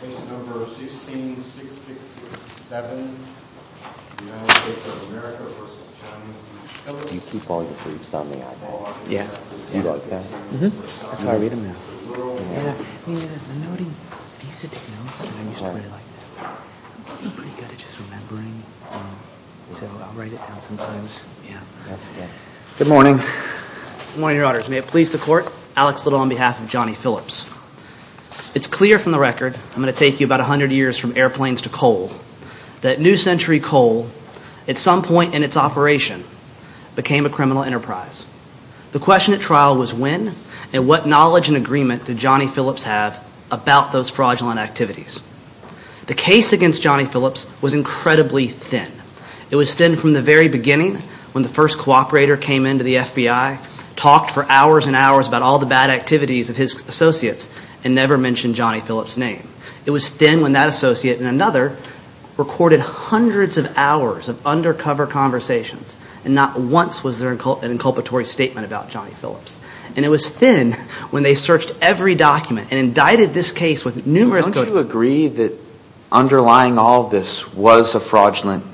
16667 United States of America v. Johnny Phillips Good morning. Good morning, Your Honors. May it please the Court, Alex Little on behalf of Johnny Phillips. It's clear from the record, I'm going to take you about 100 years from airplanes to coal, that New Century Coal, at some point in its operation, became a criminal enterprise. The question at trial was when and what knowledge and agreement did Johnny Phillips have about those fraudulent activities. The case against Johnny Phillips was incredibly thin. It was thin from the very beginning, when the first cooperator came into the FBI, talked for hours and hours about all the bad activities of his associates and never mentioned Johnny Phillips' name. It was thin when that associate and another recorded hundreds of hours of undercover conversations and not once was there an inculpatory statement about Johnny Phillips. And it was thin when they searched every document and indicted this case with numerous... Don't you agree that underlying all this was a fraudulent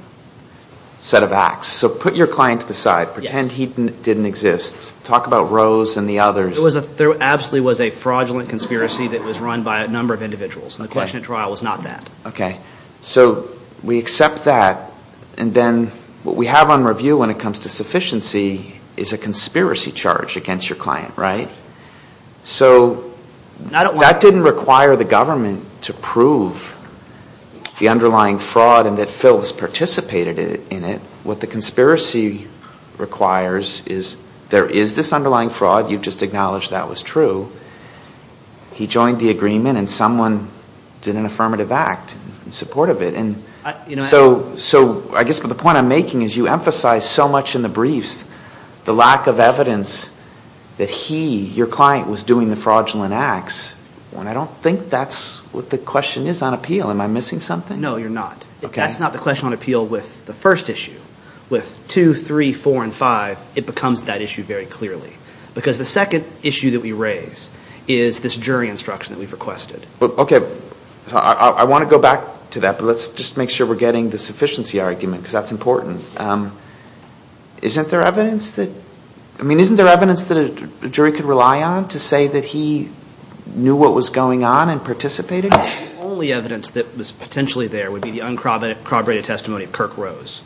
set of acts? So put your client to the side. Yes. It didn't exist. Talk about Rose and the others. There absolutely was a fraudulent conspiracy that was run by a number of individuals, and the question at trial was not that. Okay. So we accept that, and then what we have on review when it comes to sufficiency is a conspiracy charge against your client, right? So that didn't require the government to prove the underlying fraud and that Phillips participated in it. What the conspiracy requires is there is this underlying fraud. You've just acknowledged that was true. He joined the agreement and someone did an affirmative act in support of it. So I guess the point I'm making is you emphasize so much in the briefs the lack of evidence that he, your client, was doing the fraudulent acts, and I don't think that's what the question is on appeal. Am I missing something? No, you're not. That's not the question on appeal with the first issue. With two, three, four, and five, it becomes that issue very clearly because the second issue that we raise is this jury instruction that we've requested. Okay. I want to go back to that, but let's just make sure we're getting the sufficiency argument because that's important. Isn't there evidence that a jury could rely on to say that he knew what was going on and participated? I think the only evidence that was potentially there would be the uncorroborated testimony of Kirk Rose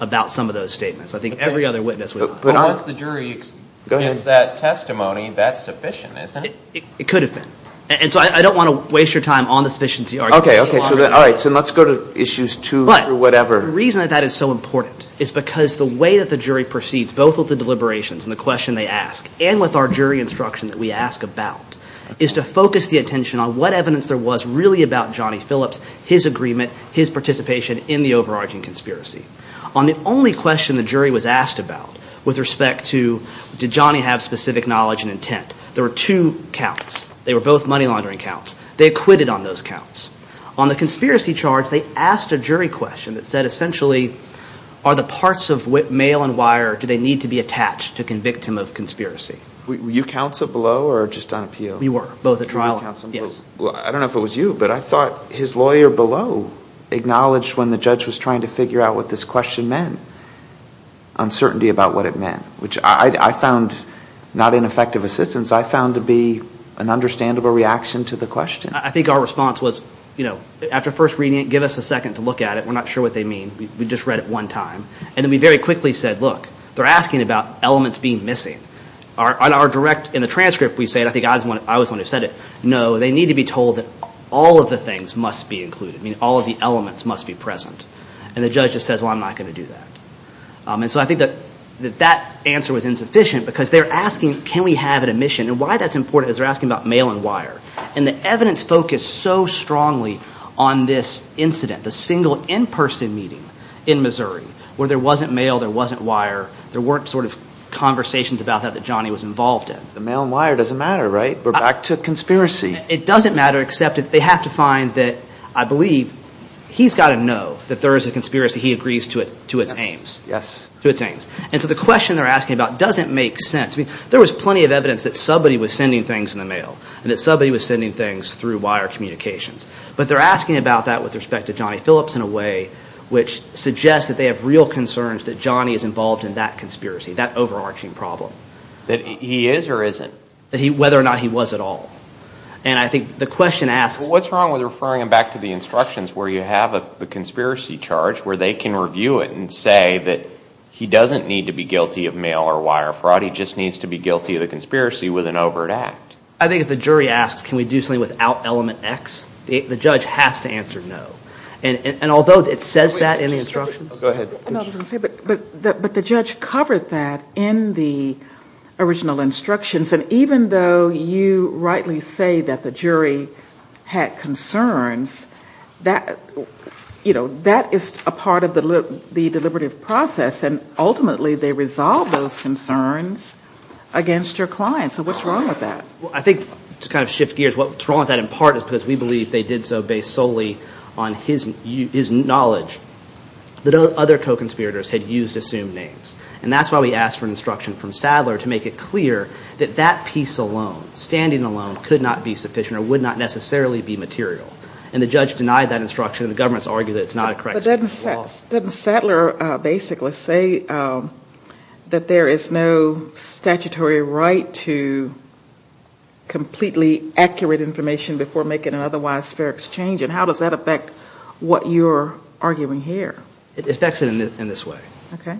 about some of those statements. I think every other witness would. But once the jury gets that testimony, that's sufficient, isn't it? It could have been. And so I don't want to waste your time on the sufficiency argument. Okay. All right. So let's go to issues two through whatever. But the reason that that is so important is because the way that the jury proceeds, both with the deliberations and the question they ask, and with our jury instruction that we ask about, is to focus the attention on what evidence there was really about Johnny Phillips, his agreement, his participation in the overarching conspiracy. On the only question the jury was asked about with respect to did Johnny have specific knowledge and intent, there were two counts. They were both money laundering counts. They acquitted on those counts. On the conspiracy charge, they asked a jury question that said, essentially, are the parts of mail and wire, do they need to be attached to convict him of conspiracy? Were you counsel below or just on appeal? We were both at trial. Were you counsel below? Yes. Well, I don't know if it was you, but I thought his lawyer below acknowledged when the judge was trying to figure out what this question meant, uncertainty about what it meant, which I found not ineffective assistance. I found to be an understandable reaction to the question. I think our response was, you know, after first reading it, give us a second to look at it. We're not sure what they mean. We just read it one time. And then we very quickly said, look, they're asking about elements being missing. Our direct, in the transcript, we say, and I think I was the one who said it, no, they need to be told that all of the things must be included. I mean, all of the elements must be present. And the judge just says, well, I'm not going to do that. And so I think that that answer was insufficient because they're asking, can we have an omission? And why that's important is they're asking about mail and wire. And the evidence focused so strongly on this incident, the single in-person meeting in Missouri, where there wasn't mail, there wasn't wire. There weren't sort of conversations about that that Johnny was involved in. The mail and wire doesn't matter, right? We're back to conspiracy. It doesn't matter except they have to find that, I believe, he's got to know that there is a conspiracy. He agrees to its aims. Yes. To its aims. And so the question they're asking about doesn't make sense. I mean, there was plenty of evidence that somebody was sending things in the mail and that somebody was sending things through wire communications. But they're asking about that with respect to Johnny Phillips in a way which suggests that they have real concerns that Johnny is involved in that conspiracy, that overarching problem. That he is or isn't? Whether or not he was at all. And I think the question asks. What's wrong with referring him back to the instructions where you have the conspiracy charge where they can review it and say that he doesn't need to be guilty of mail or wire fraud. He just needs to be guilty of the conspiracy with an overt act. I think if the jury asks, can we do something without element X, the judge has to answer no. And although it says that in the instructions. Go ahead. I was going to say, but the judge covered that in the original instructions. And even though you rightly say that the jury had concerns, that is a part of the deliberative process. And ultimately they resolve those concerns against your client. So what's wrong with that? I think to kind of shift gears, what's wrong with that in part is because we believe they did so based solely on his knowledge that other co-conspirators had used assumed names. And that's why we asked for an instruction from Sadler to make it clear that that piece alone, standing alone, could not be sufficient or would not necessarily be material. And the judge denied that instruction. The government has argued that it's not a correct statement of law. But doesn't Sadler basically say that there is no statutory right to completely accurate information before making an otherwise fair exchange? And how does that affect what you're arguing here? It affects it in this way. Okay.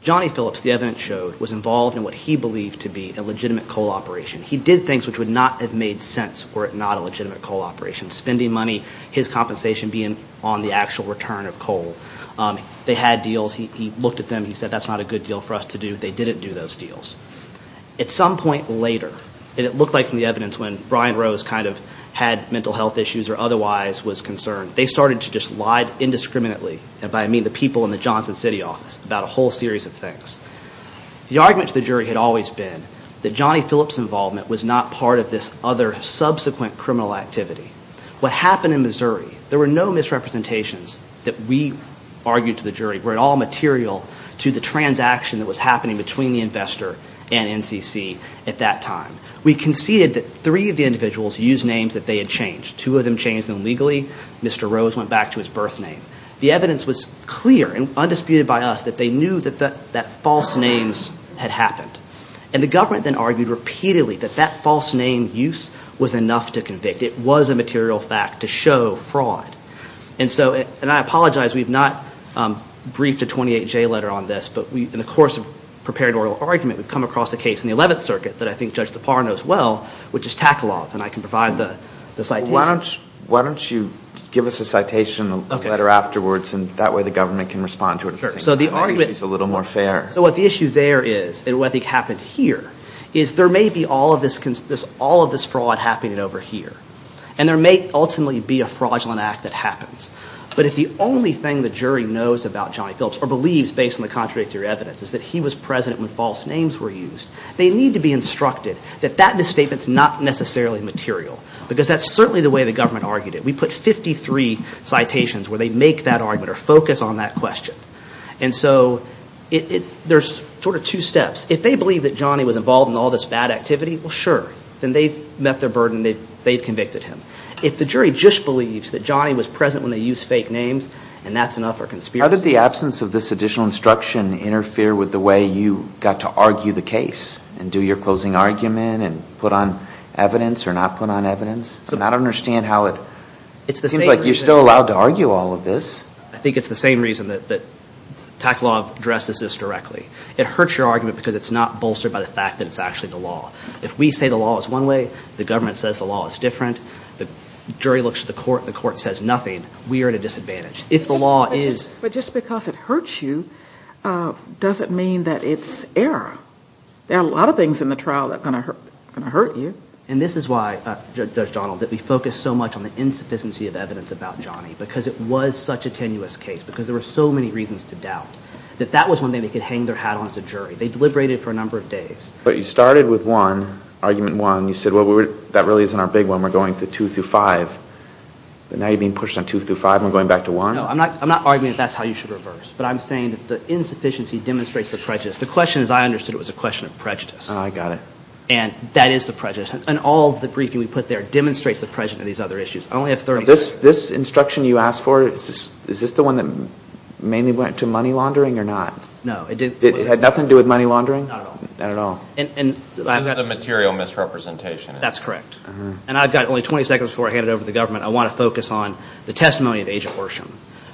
Johnny Phillips, the evidence showed, was involved in what he believed to be a legitimate coal operation. He did things which would not have made sense were it not a legitimate coal operation. Spending money, his compensation being on the actual return of coal. They had deals. He looked at them. He said that's not a good deal for us to do. They didn't do those deals. At some point later, and it looked like from the evidence when Brian Rose kind of had mental health issues or otherwise was concerned, they started to just lie indiscriminately, and by I mean the people in the Johnson City office, about a whole series of things. The argument to the jury had always been that Johnny Phillips' involvement was not part of this other subsequent criminal activity. What happened in Missouri, there were no misrepresentations that we argued to the jury were at all material to the transaction that was happening between the investor and NCC at that time. We conceded that three of the individuals used names that they had changed. Two of them changed them legally. Mr. Rose went back to his birth name. The evidence was clear and undisputed by us that they knew that false names had happened. And the government then argued repeatedly that that false name use was enough to convict. It was a material fact to show fraud. And I apologize. We have not briefed a 28-J letter on this, but in the course of preparing an oral argument, we've come across a case in the 11th Circuit that I think Judge DePauw knows well, which is Taklov. And I can provide the citation. Why don't you give us a citation, a letter afterwards, and that way the government can respond to it. Maybe she's a little more fair. So what the issue there is, and what I think happened here, is there may be all of this fraud happening over here. And there may ultimately be a fraudulent act that happens. But if the only thing the jury knows about Johnny Phillips, or believes based on the contradictory evidence, is that he was present when false names were used, they need to be instructed that that misstatement's not necessarily material. Because that's certainly the way the government argued it. We put 53 citations where they make that argument or focus on that question. And so there's sort of two steps. Then they've met their burden. They've convicted him. If the jury just believes that Johnny was present when they used fake names, and that's enough for conspiracy. How did the absence of this additional instruction interfere with the way you got to argue the case and do your closing argument and put on evidence or not put on evidence? I don't understand how it seems like you're still allowed to argue all of this. I think it's the same reason that Taklov addresses this directly. It hurts your argument because it's not bolstered by the fact that it's actually the law. If we say the law is one way, the government says the law is different, the jury looks at the court and the court says nothing, we are at a disadvantage. If the law is... But just because it hurts you doesn't mean that it's error. There are a lot of things in the trial that are going to hurt you. And this is why, Judge Donald, that we focus so much on the insufficiency of evidence about Johnny because it was such a tenuous case because there were so many reasons to doubt that that was one thing they could hang their hat on as a jury. They deliberated for a number of days. But you started with one, argument one. You said, well, that really isn't our big one. We're going to two through five. But now you're being pushed on two through five and we're going back to one? No, I'm not arguing that that's how you should reverse. But I'm saying that the insufficiency demonstrates the prejudice. The question, as I understood it, was a question of prejudice. Oh, I got it. And that is the prejudice. And all of the briefing we put there demonstrates the prejudice of these other issues. I only have 30 seconds. This instruction you asked for, is this the one that mainly went to money laundering or not? No, it didn't. It had nothing to do with money laundering? Not at all. Not at all. This is a material misrepresentation. That's correct. And I've got only 20 seconds before I hand it over to the government. I want to focus on the testimony of Agent Worsham,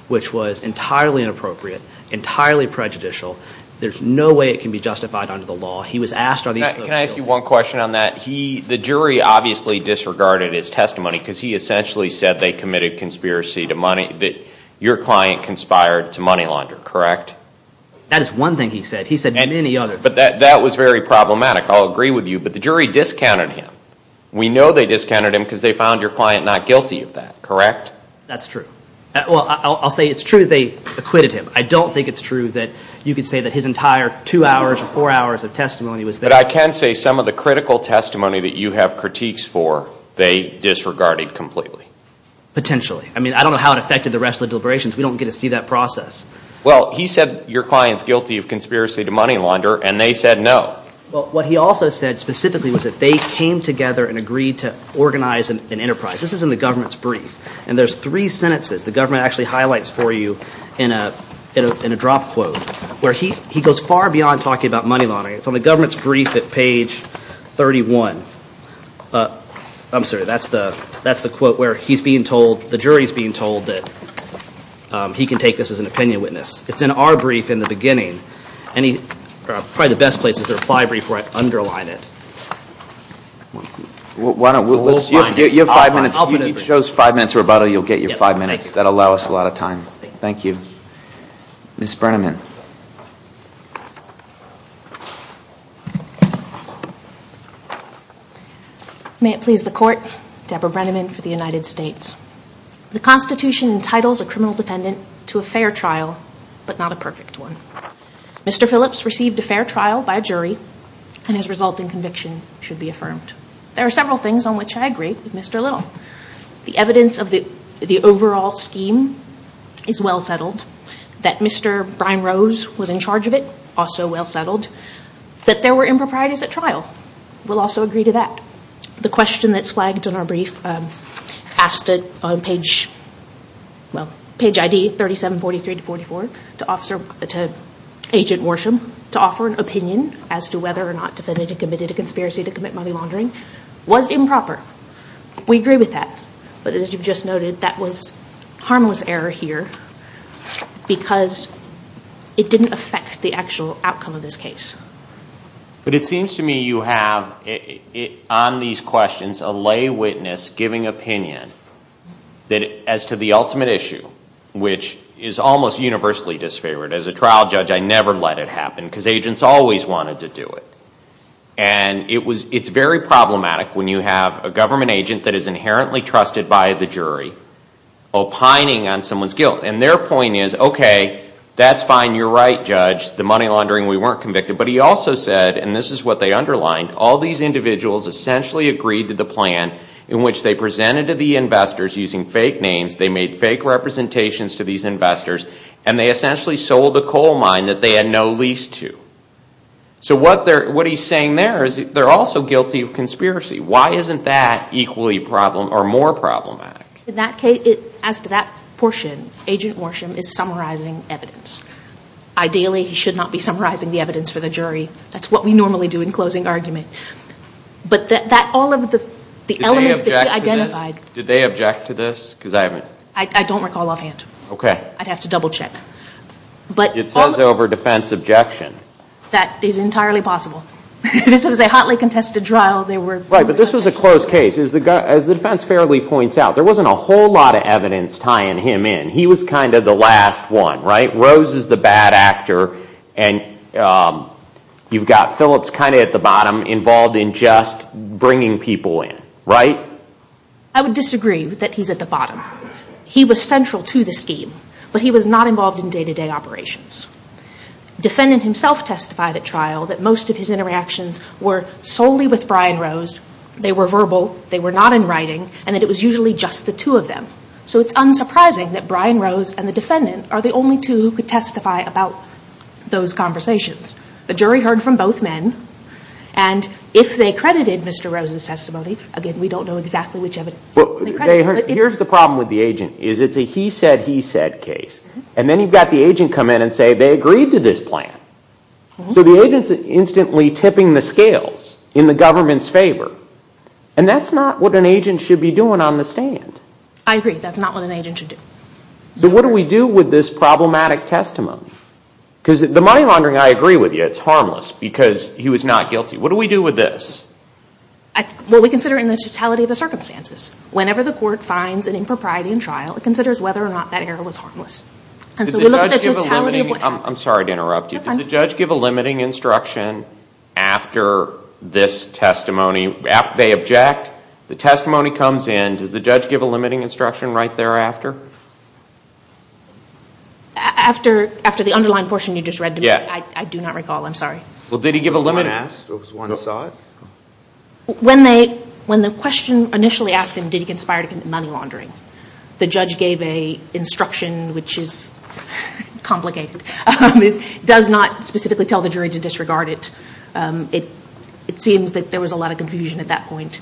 which was entirely inappropriate, entirely prejudicial. There's no way it can be justified under the law. Can I ask you one question on that? The jury obviously disregarded his testimony because he essentially said they committed conspiracy to money. Your client conspired to money launder, correct? That is one thing he said. He said many other things. But that was very problematic. I'll agree with you. But the jury discounted him. We know they discounted him because they found your client not guilty of that, correct? That's true. Well, I'll say it's true they acquitted him. I don't think it's true that you could say that his entire two hours or four hours of testimony was there. But I can say some of the critical testimony that you have critiques for, they disregarded completely. Potentially. I mean, I don't know how it affected the rest of the deliberations. We don't get to see that process. Well, he said your client's guilty of conspiracy to money launder, and they said no. Well, what he also said specifically was that they came together and agreed to organize an enterprise. This is in the government's brief. And there's three sentences the government actually highlights for you in a drop quote where he goes far beyond talking about money laundering. It's on the government's brief at page 31. I'm sorry. That's the quote where he's being told, the jury's being told that he can take this as an opinion witness. It's in our brief in the beginning. Probably the best place is the reply brief where I underline it. You have five minutes. Each show's five minutes rebuttal. You'll get your five minutes. That'll allow us a lot of time. Thank you. Ms. Brenneman. May it please the court, Deborah Brenneman for the United States. The Constitution entitles a criminal defendant to a fair trial, but not a perfect one. Mr. Phillips received a fair trial by a jury, and his resulting conviction should be affirmed. There are several things on which I agree with Mr. Little. The evidence of the overall scheme is well settled. That Mr. Brian Rose was in charge of it, also well settled. That there were improprieties at trial. We'll also agree to that. The question that's flagged in our brief, asked on page ID 3743-44 to Agent Worsham to offer an opinion as to whether or not the defendant had committed a conspiracy to commit money laundering, was improper. We agree with that. But as you just noted, that was harmless error here, because it didn't affect the actual outcome of this case. But it seems to me you have, on these questions, a lay witness giving opinion as to the ultimate issue, which is almost universally disfavored. As a trial judge, I never let it happen, because agents always wanted to do it. And it's very problematic when you have a government agent that is inherently trusted by the jury, opining on someone's guilt. And their point is, okay, that's fine, you're right, Judge, the money laundering, we weren't convicted. But he also said, and this is what they underlined, all these individuals essentially agreed to the plan in which they presented to the investors using fake names, they made fake representations to these investors, and they essentially sold a coal mine that they had no lease to. So what he's saying there is they're also guilty of conspiracy. Why isn't that equally problematic, or more problematic? As to that portion, Agent Worsham is summarizing evidence. Ideally, he should not be summarizing the evidence for the jury. That's what we normally do in closing argument. But all of the elements that he identified... Did they object to this? I don't recall offhand. I'd have to double check. It says over defense objection. That is entirely possible. This was a hotly contested trial. Right, but this was a closed case. As the defense fairly points out, there wasn't a whole lot of evidence tying him in. He was kind of the last one, right? Rose is the bad actor, and you've got Phillips kind of at the bottom, involved in just bringing people in, right? I would disagree that he's at the bottom. He was central to the scheme, but he was not involved in day-to-day operations. Defendant himself testified at trial that most of his interactions were solely with Brian Rose. They were verbal. They were not in writing, and that it was usually just the two of them. So it's unsurprising that Brian Rose and the defendant are the only two who could testify about those conversations. The jury heard from both men, and if they credited Mr. Rose's testimony... Again, we don't know exactly which evidence they credited. Here's the problem with the agent, is it's a he said, he said case. And then you've got the agent come in and say they agreed to this plan. So the agent's instantly tipping the scales in the government's favor. And that's not what an agent should be doing on the stand. I agree, that's not what an agent should do. So what do we do with this problematic testimony? Because the money laundering, I agree with you, it's harmless because he was not guilty. What do we do with this? Well, we consider it in the totality of the circumstances. Whenever the court finds an impropriety in trial, it considers whether or not that error was harmless. And so we look at the totality of... I'm sorry to interrupt you. That's fine. Did the judge give a limiting instruction after this testimony, after they object? The testimony comes in, does the judge give a limiting instruction right thereafter? After the underlying portion you just read to me, I do not recall. I'm sorry. Well, did he give a limiting... When the question initially asked him, did he conspire to commit money laundering, the judge gave an instruction which is complicated. It does not specifically tell the jury to disregard it. It seems that there was a lot of confusion at that point.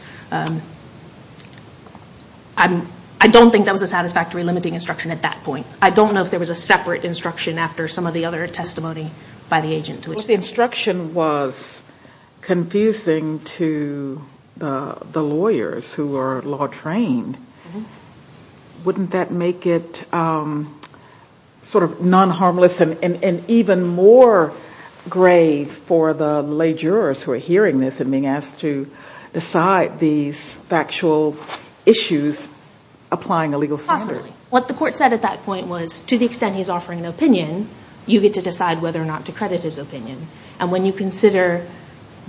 I don't think that was a satisfactory limiting instruction at that point. I don't know if there was a separate instruction after some of the other testimony by the agent. Well, if the instruction was confusing to the lawyers who are law trained, wouldn't that make it sort of non-harmless and even more grave for the lay jurors who are hearing this and being asked to decide these factual issues applying a legal standard? Possibly. What the court said at that point was, to the extent he's offering an opinion, you get to decide whether or not to credit his opinion. And when you consider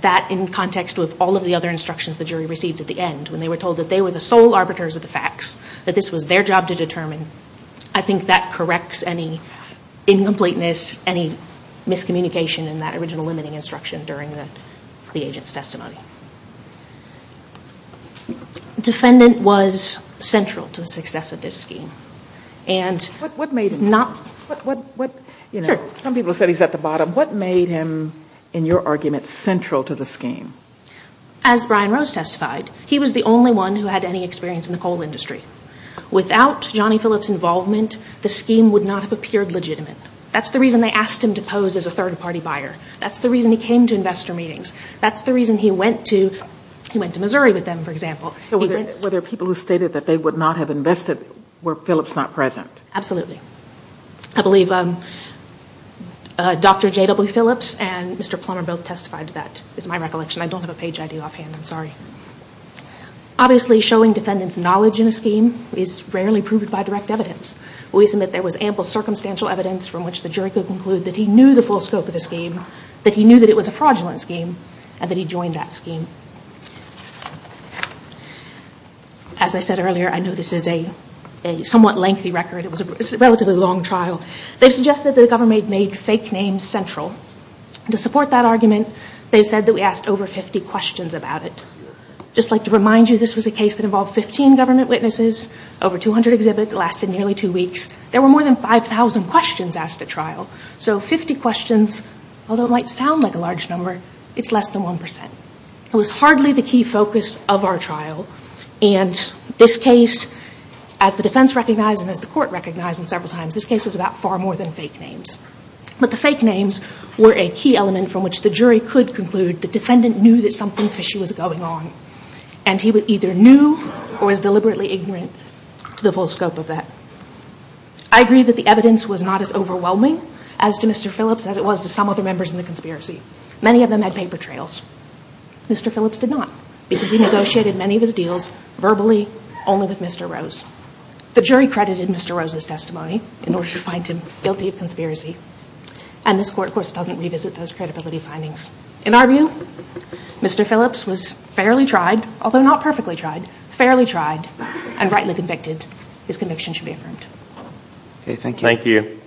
that in context with all of the other instructions the jury received at the end, when they were told that they were the sole arbiters of the facts, that this was their job to determine, I think that corrects any incompleteness, any miscommunication in that original limiting instruction during the agent's testimony. Defendant was central to the success of this scheme. What made him? Some people said he's at the bottom. What made him, in your argument, central to the scheme? As Brian Rose testified, he was the only one who had any experience in the coal industry. Without Johnny Phillips' involvement, the scheme would not have appeared legitimate. That's the reason they asked him to pose as a third-party buyer. That's the reason he came to investor meetings. That's the reason he went to Missouri with them, for example. Were there people who stated that they would not have invested were Phillips not present? Absolutely. I believe Dr. J.W. Phillips and Mr. Plummer both testified to that, is my recollection. I don't have a page ID offhand, I'm sorry. Obviously, showing defendant's knowledge in a scheme is rarely proved by direct evidence. We submit there was ample circumstantial evidence from which the jury could conclude that he knew the full scope of the scheme, that he knew that it was a fraudulent scheme, and that he joined that scheme. As I said earlier, I know this is a somewhat lengthy record. It was a relatively long trial. They suggested that the government made fake names central. To support that argument, they said that we asked over 50 questions about it. Just like to remind you, this was a case that involved 15 government witnesses, over 200 exhibits, it lasted nearly two weeks. There were more than 5,000 questions asked at trial. So 50 questions, although it might sound like a large number, it's less than 1%. It was hardly the key focus of our trial. And this case, as the defense recognized and as the court recognized several times, this case was about far more than fake names. But the fake names were a key element from which the jury could conclude the defendant knew that something fishy was going on. And he either knew or was deliberately ignorant to the full scope of that. I agree that the evidence was not as overwhelming as to Mr. Phillips as it was to some other members in the conspiracy. Many of them had paper trails. Mr. Phillips did not, because he negotiated many of his deals verbally only with Mr. Rose. The jury credited Mr. Rose's testimony in order to find him guilty of conspiracy. And this court, of course, doesn't revisit those credibility findings. In our view, Mr. Phillips was fairly tried, although not perfectly tried, fairly tried and rightly convicted. His conviction should be affirmed. Okay, thank you. Thank you.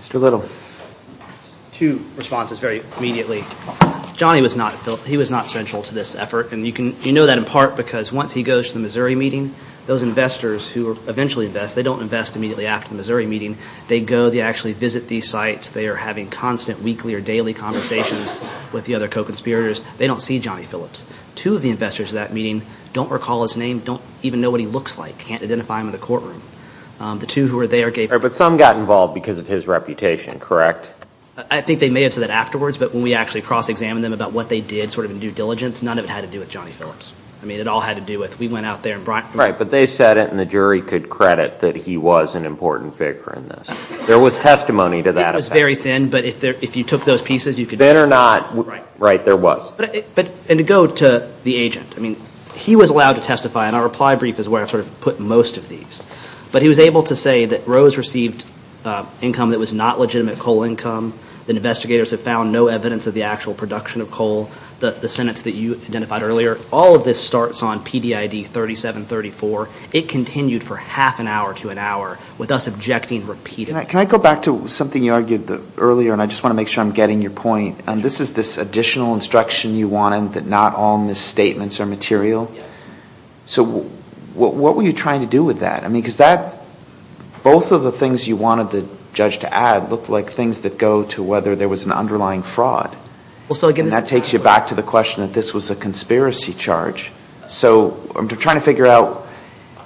Mr. Little. Two responses very immediately. Johnny was not central to this effort. And you know that in part because once he goes to the Missouri meeting, those investors who eventually invest, they don't invest immediately after the Missouri meeting. They go, they actually visit these sites. They are having constant weekly or daily conversations with the other co-conspirators. They don't see Johnny Phillips. Two of the investors at that meeting don't recall his name, don't even know what he looks like, can't identify him in the courtroom. The two who were there gave – But some got involved because of his reputation, correct? I think they may have said that afterwards, but when we actually cross-examined them about what they did sort of in due diligence, none of it had to do with Johnny Phillips. I mean, it all had to do with we went out there and brought – Right, but they said it, and the jury could credit that he was an important figure in this. There was testimony to that effect. It was very thin, but if you took those pieces, you could – Thin or not, right, there was. And to go to the agent, I mean, he was allowed to testify, and our reply brief is where I've sort of put most of these. But he was able to say that Rose received income that was not legitimate coal income, that investigators have found no evidence of the actual production of coal, the sentence that you identified earlier, all of this starts on PDID 3734. It continued for half an hour to an hour, with us objecting repeatedly. Can I go back to something you argued earlier, and I just want to make sure I'm getting your point. This is this additional instruction you wanted, that not all misstatements are material. Yes. So what were you trying to do with that? I mean, because that – both of the things you wanted the judge to add looked like things that go to whether there was an underlying fraud. And that takes you back to the question that this was a conspiracy charge. So I'm trying to figure out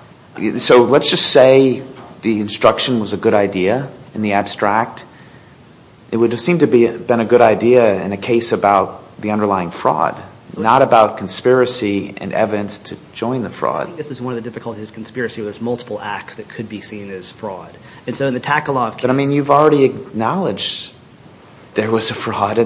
– so let's just say the instruction was a good idea in the abstract. It would have seemed to have been a good idea in a case about the underlying fraud, not about conspiracy and evidence to join the fraud. This is one of the difficulties of conspiracy where there's multiple acts that could be seen as fraud. And so in the Takalov case – But, I mean, you've already acknowledged there was a fraud.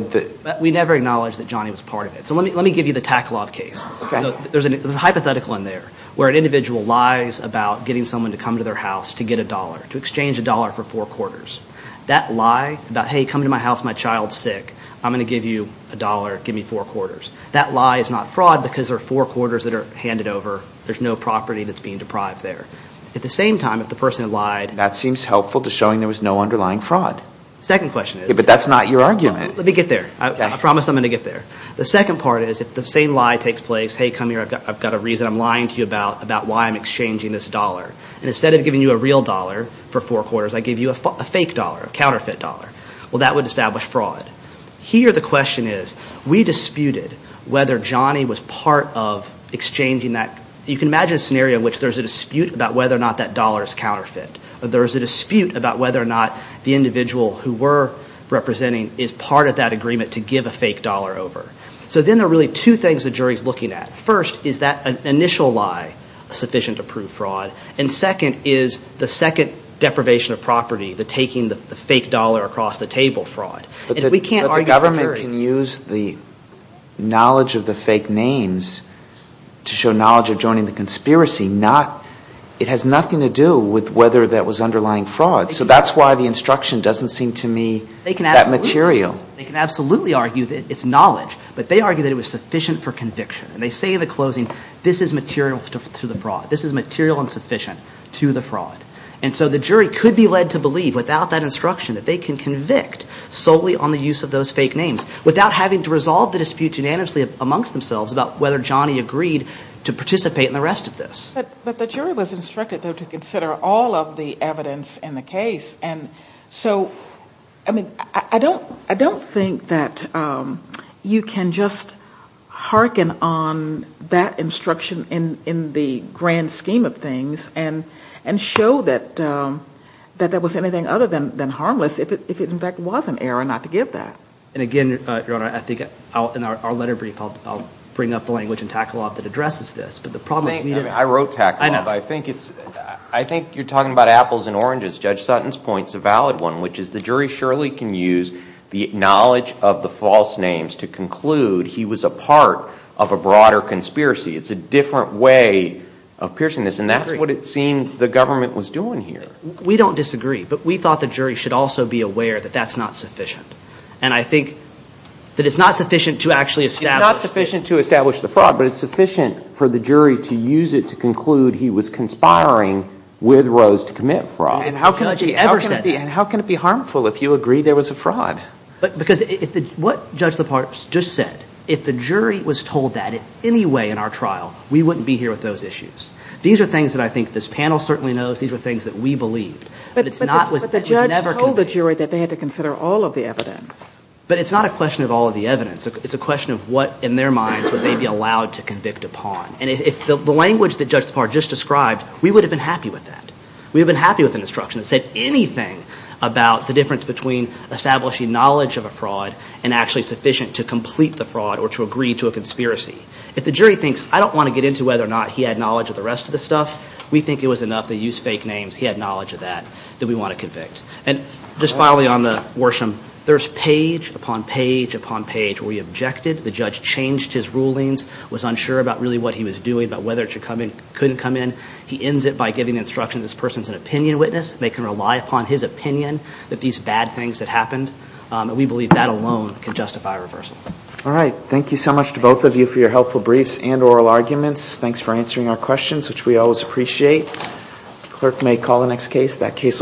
We never acknowledged that Johnny was part of it. So let me give you the Takalov case. So there's a hypothetical in there where an individual lies about getting someone to come to their house to get a dollar, to exchange a dollar for four quarters. That lie about, hey, come to my house. My child's sick. I'm going to give you a dollar. Give me four quarters. That lie is not fraud because there are four quarters that are handed over. There's no property that's being deprived there. At the same time, if the person had lied – That seems helpful to showing there was no underlying fraud. The second question is – But that's not your argument. Let me get there. I promise I'm going to get there. The second part is if the same lie takes place, hey, come here. I've got a reason. I'm lying to you about why I'm exchanging this dollar. And instead of giving you a real dollar for four quarters, I give you a fake dollar, a counterfeit dollar. Well, that would establish fraud. Here the question is, we disputed whether Johnny was part of exchanging that – you can imagine a scenario in which there's a dispute about whether or not that dollar is counterfeit. There's a dispute about whether or not the individual who we're representing is part of that agreement to give a fake dollar over. So then there are really two things the jury's looking at. First, is that initial lie sufficient to prove fraud? And second is the second deprivation of property, the taking the fake dollar across the table fraud. But the government can use the knowledge of the fake names to show knowledge of joining the conspiracy. It has nothing to do with whether that was underlying fraud. So that's why the instruction doesn't seem to me that material. They can absolutely argue that it's knowledge, but they argue that it was sufficient for conviction. And they say in the closing, this is material to the fraud. This is material and sufficient to the fraud. And so the jury could be led to believe without that instruction that they can convict solely on the use of those fake names without having to resolve the dispute unanimously amongst themselves about whether Johnny agreed to participate in the rest of this. But the jury was instructed, though, to consider all of the evidence in the case. And so, I mean, I don't think that you can just hearken on that instruction in the grand scheme of things and show that there was anything other than harmless if it, in fact, was an error not to give that. And, again, Your Honor, I think in our letter brief I'll bring up the language in Tackle-Off that addresses this. But the problem is we need to be able to. I know. I think you're talking about apples and oranges. Judge Sutton's point is a valid one, which is the jury surely can use the knowledge of the false names to conclude he was a part of a broader conspiracy. It's a different way of piercing this, and that's what it seemed the government was doing here. We don't disagree, but we thought the jury should also be aware that that's not sufficient. And I think that it's not sufficient to actually establish. It's not sufficient to establish the fraud, but it's sufficient for the jury to use it to conclude he was conspiring with Rose to commit fraud. And how can it be harmful if you agree there was a fraud? Because what Judge Leparz just said, if the jury was told that in any way in our trial, we wouldn't be here with those issues. These are things that I think this panel certainly knows. These are things that we believe. But the judge told the jury that they had to consider all of the evidence. But it's not a question of all of the evidence. It's a question of what in their minds would they be allowed to convict upon. And if the language that Judge Leparz just described, we would have been happy with that. We would have been happy with an instruction that said anything about the difference between establishing knowledge of a fraud and actually sufficient to complete the fraud or to agree to a conspiracy. If the jury thinks, I don't want to get into whether or not he had knowledge of the rest of the stuff, we think it was enough that he used fake names, he had knowledge of that, that we want to convict. And just finally on the Worsham, there's page upon page upon page where he objected. The judge changed his rulings, was unsure about really what he was doing, about whether it should come in, couldn't come in. He ends it by giving the instruction this person is an opinion witness. They can rely upon his opinion that these bad things that happened. And we believe that alone can justify a reversal. All right. Thank you so much to both of you for your helpful briefs and oral arguments. Thanks for answering our questions, which we always appreciate. Clerk may call the next case.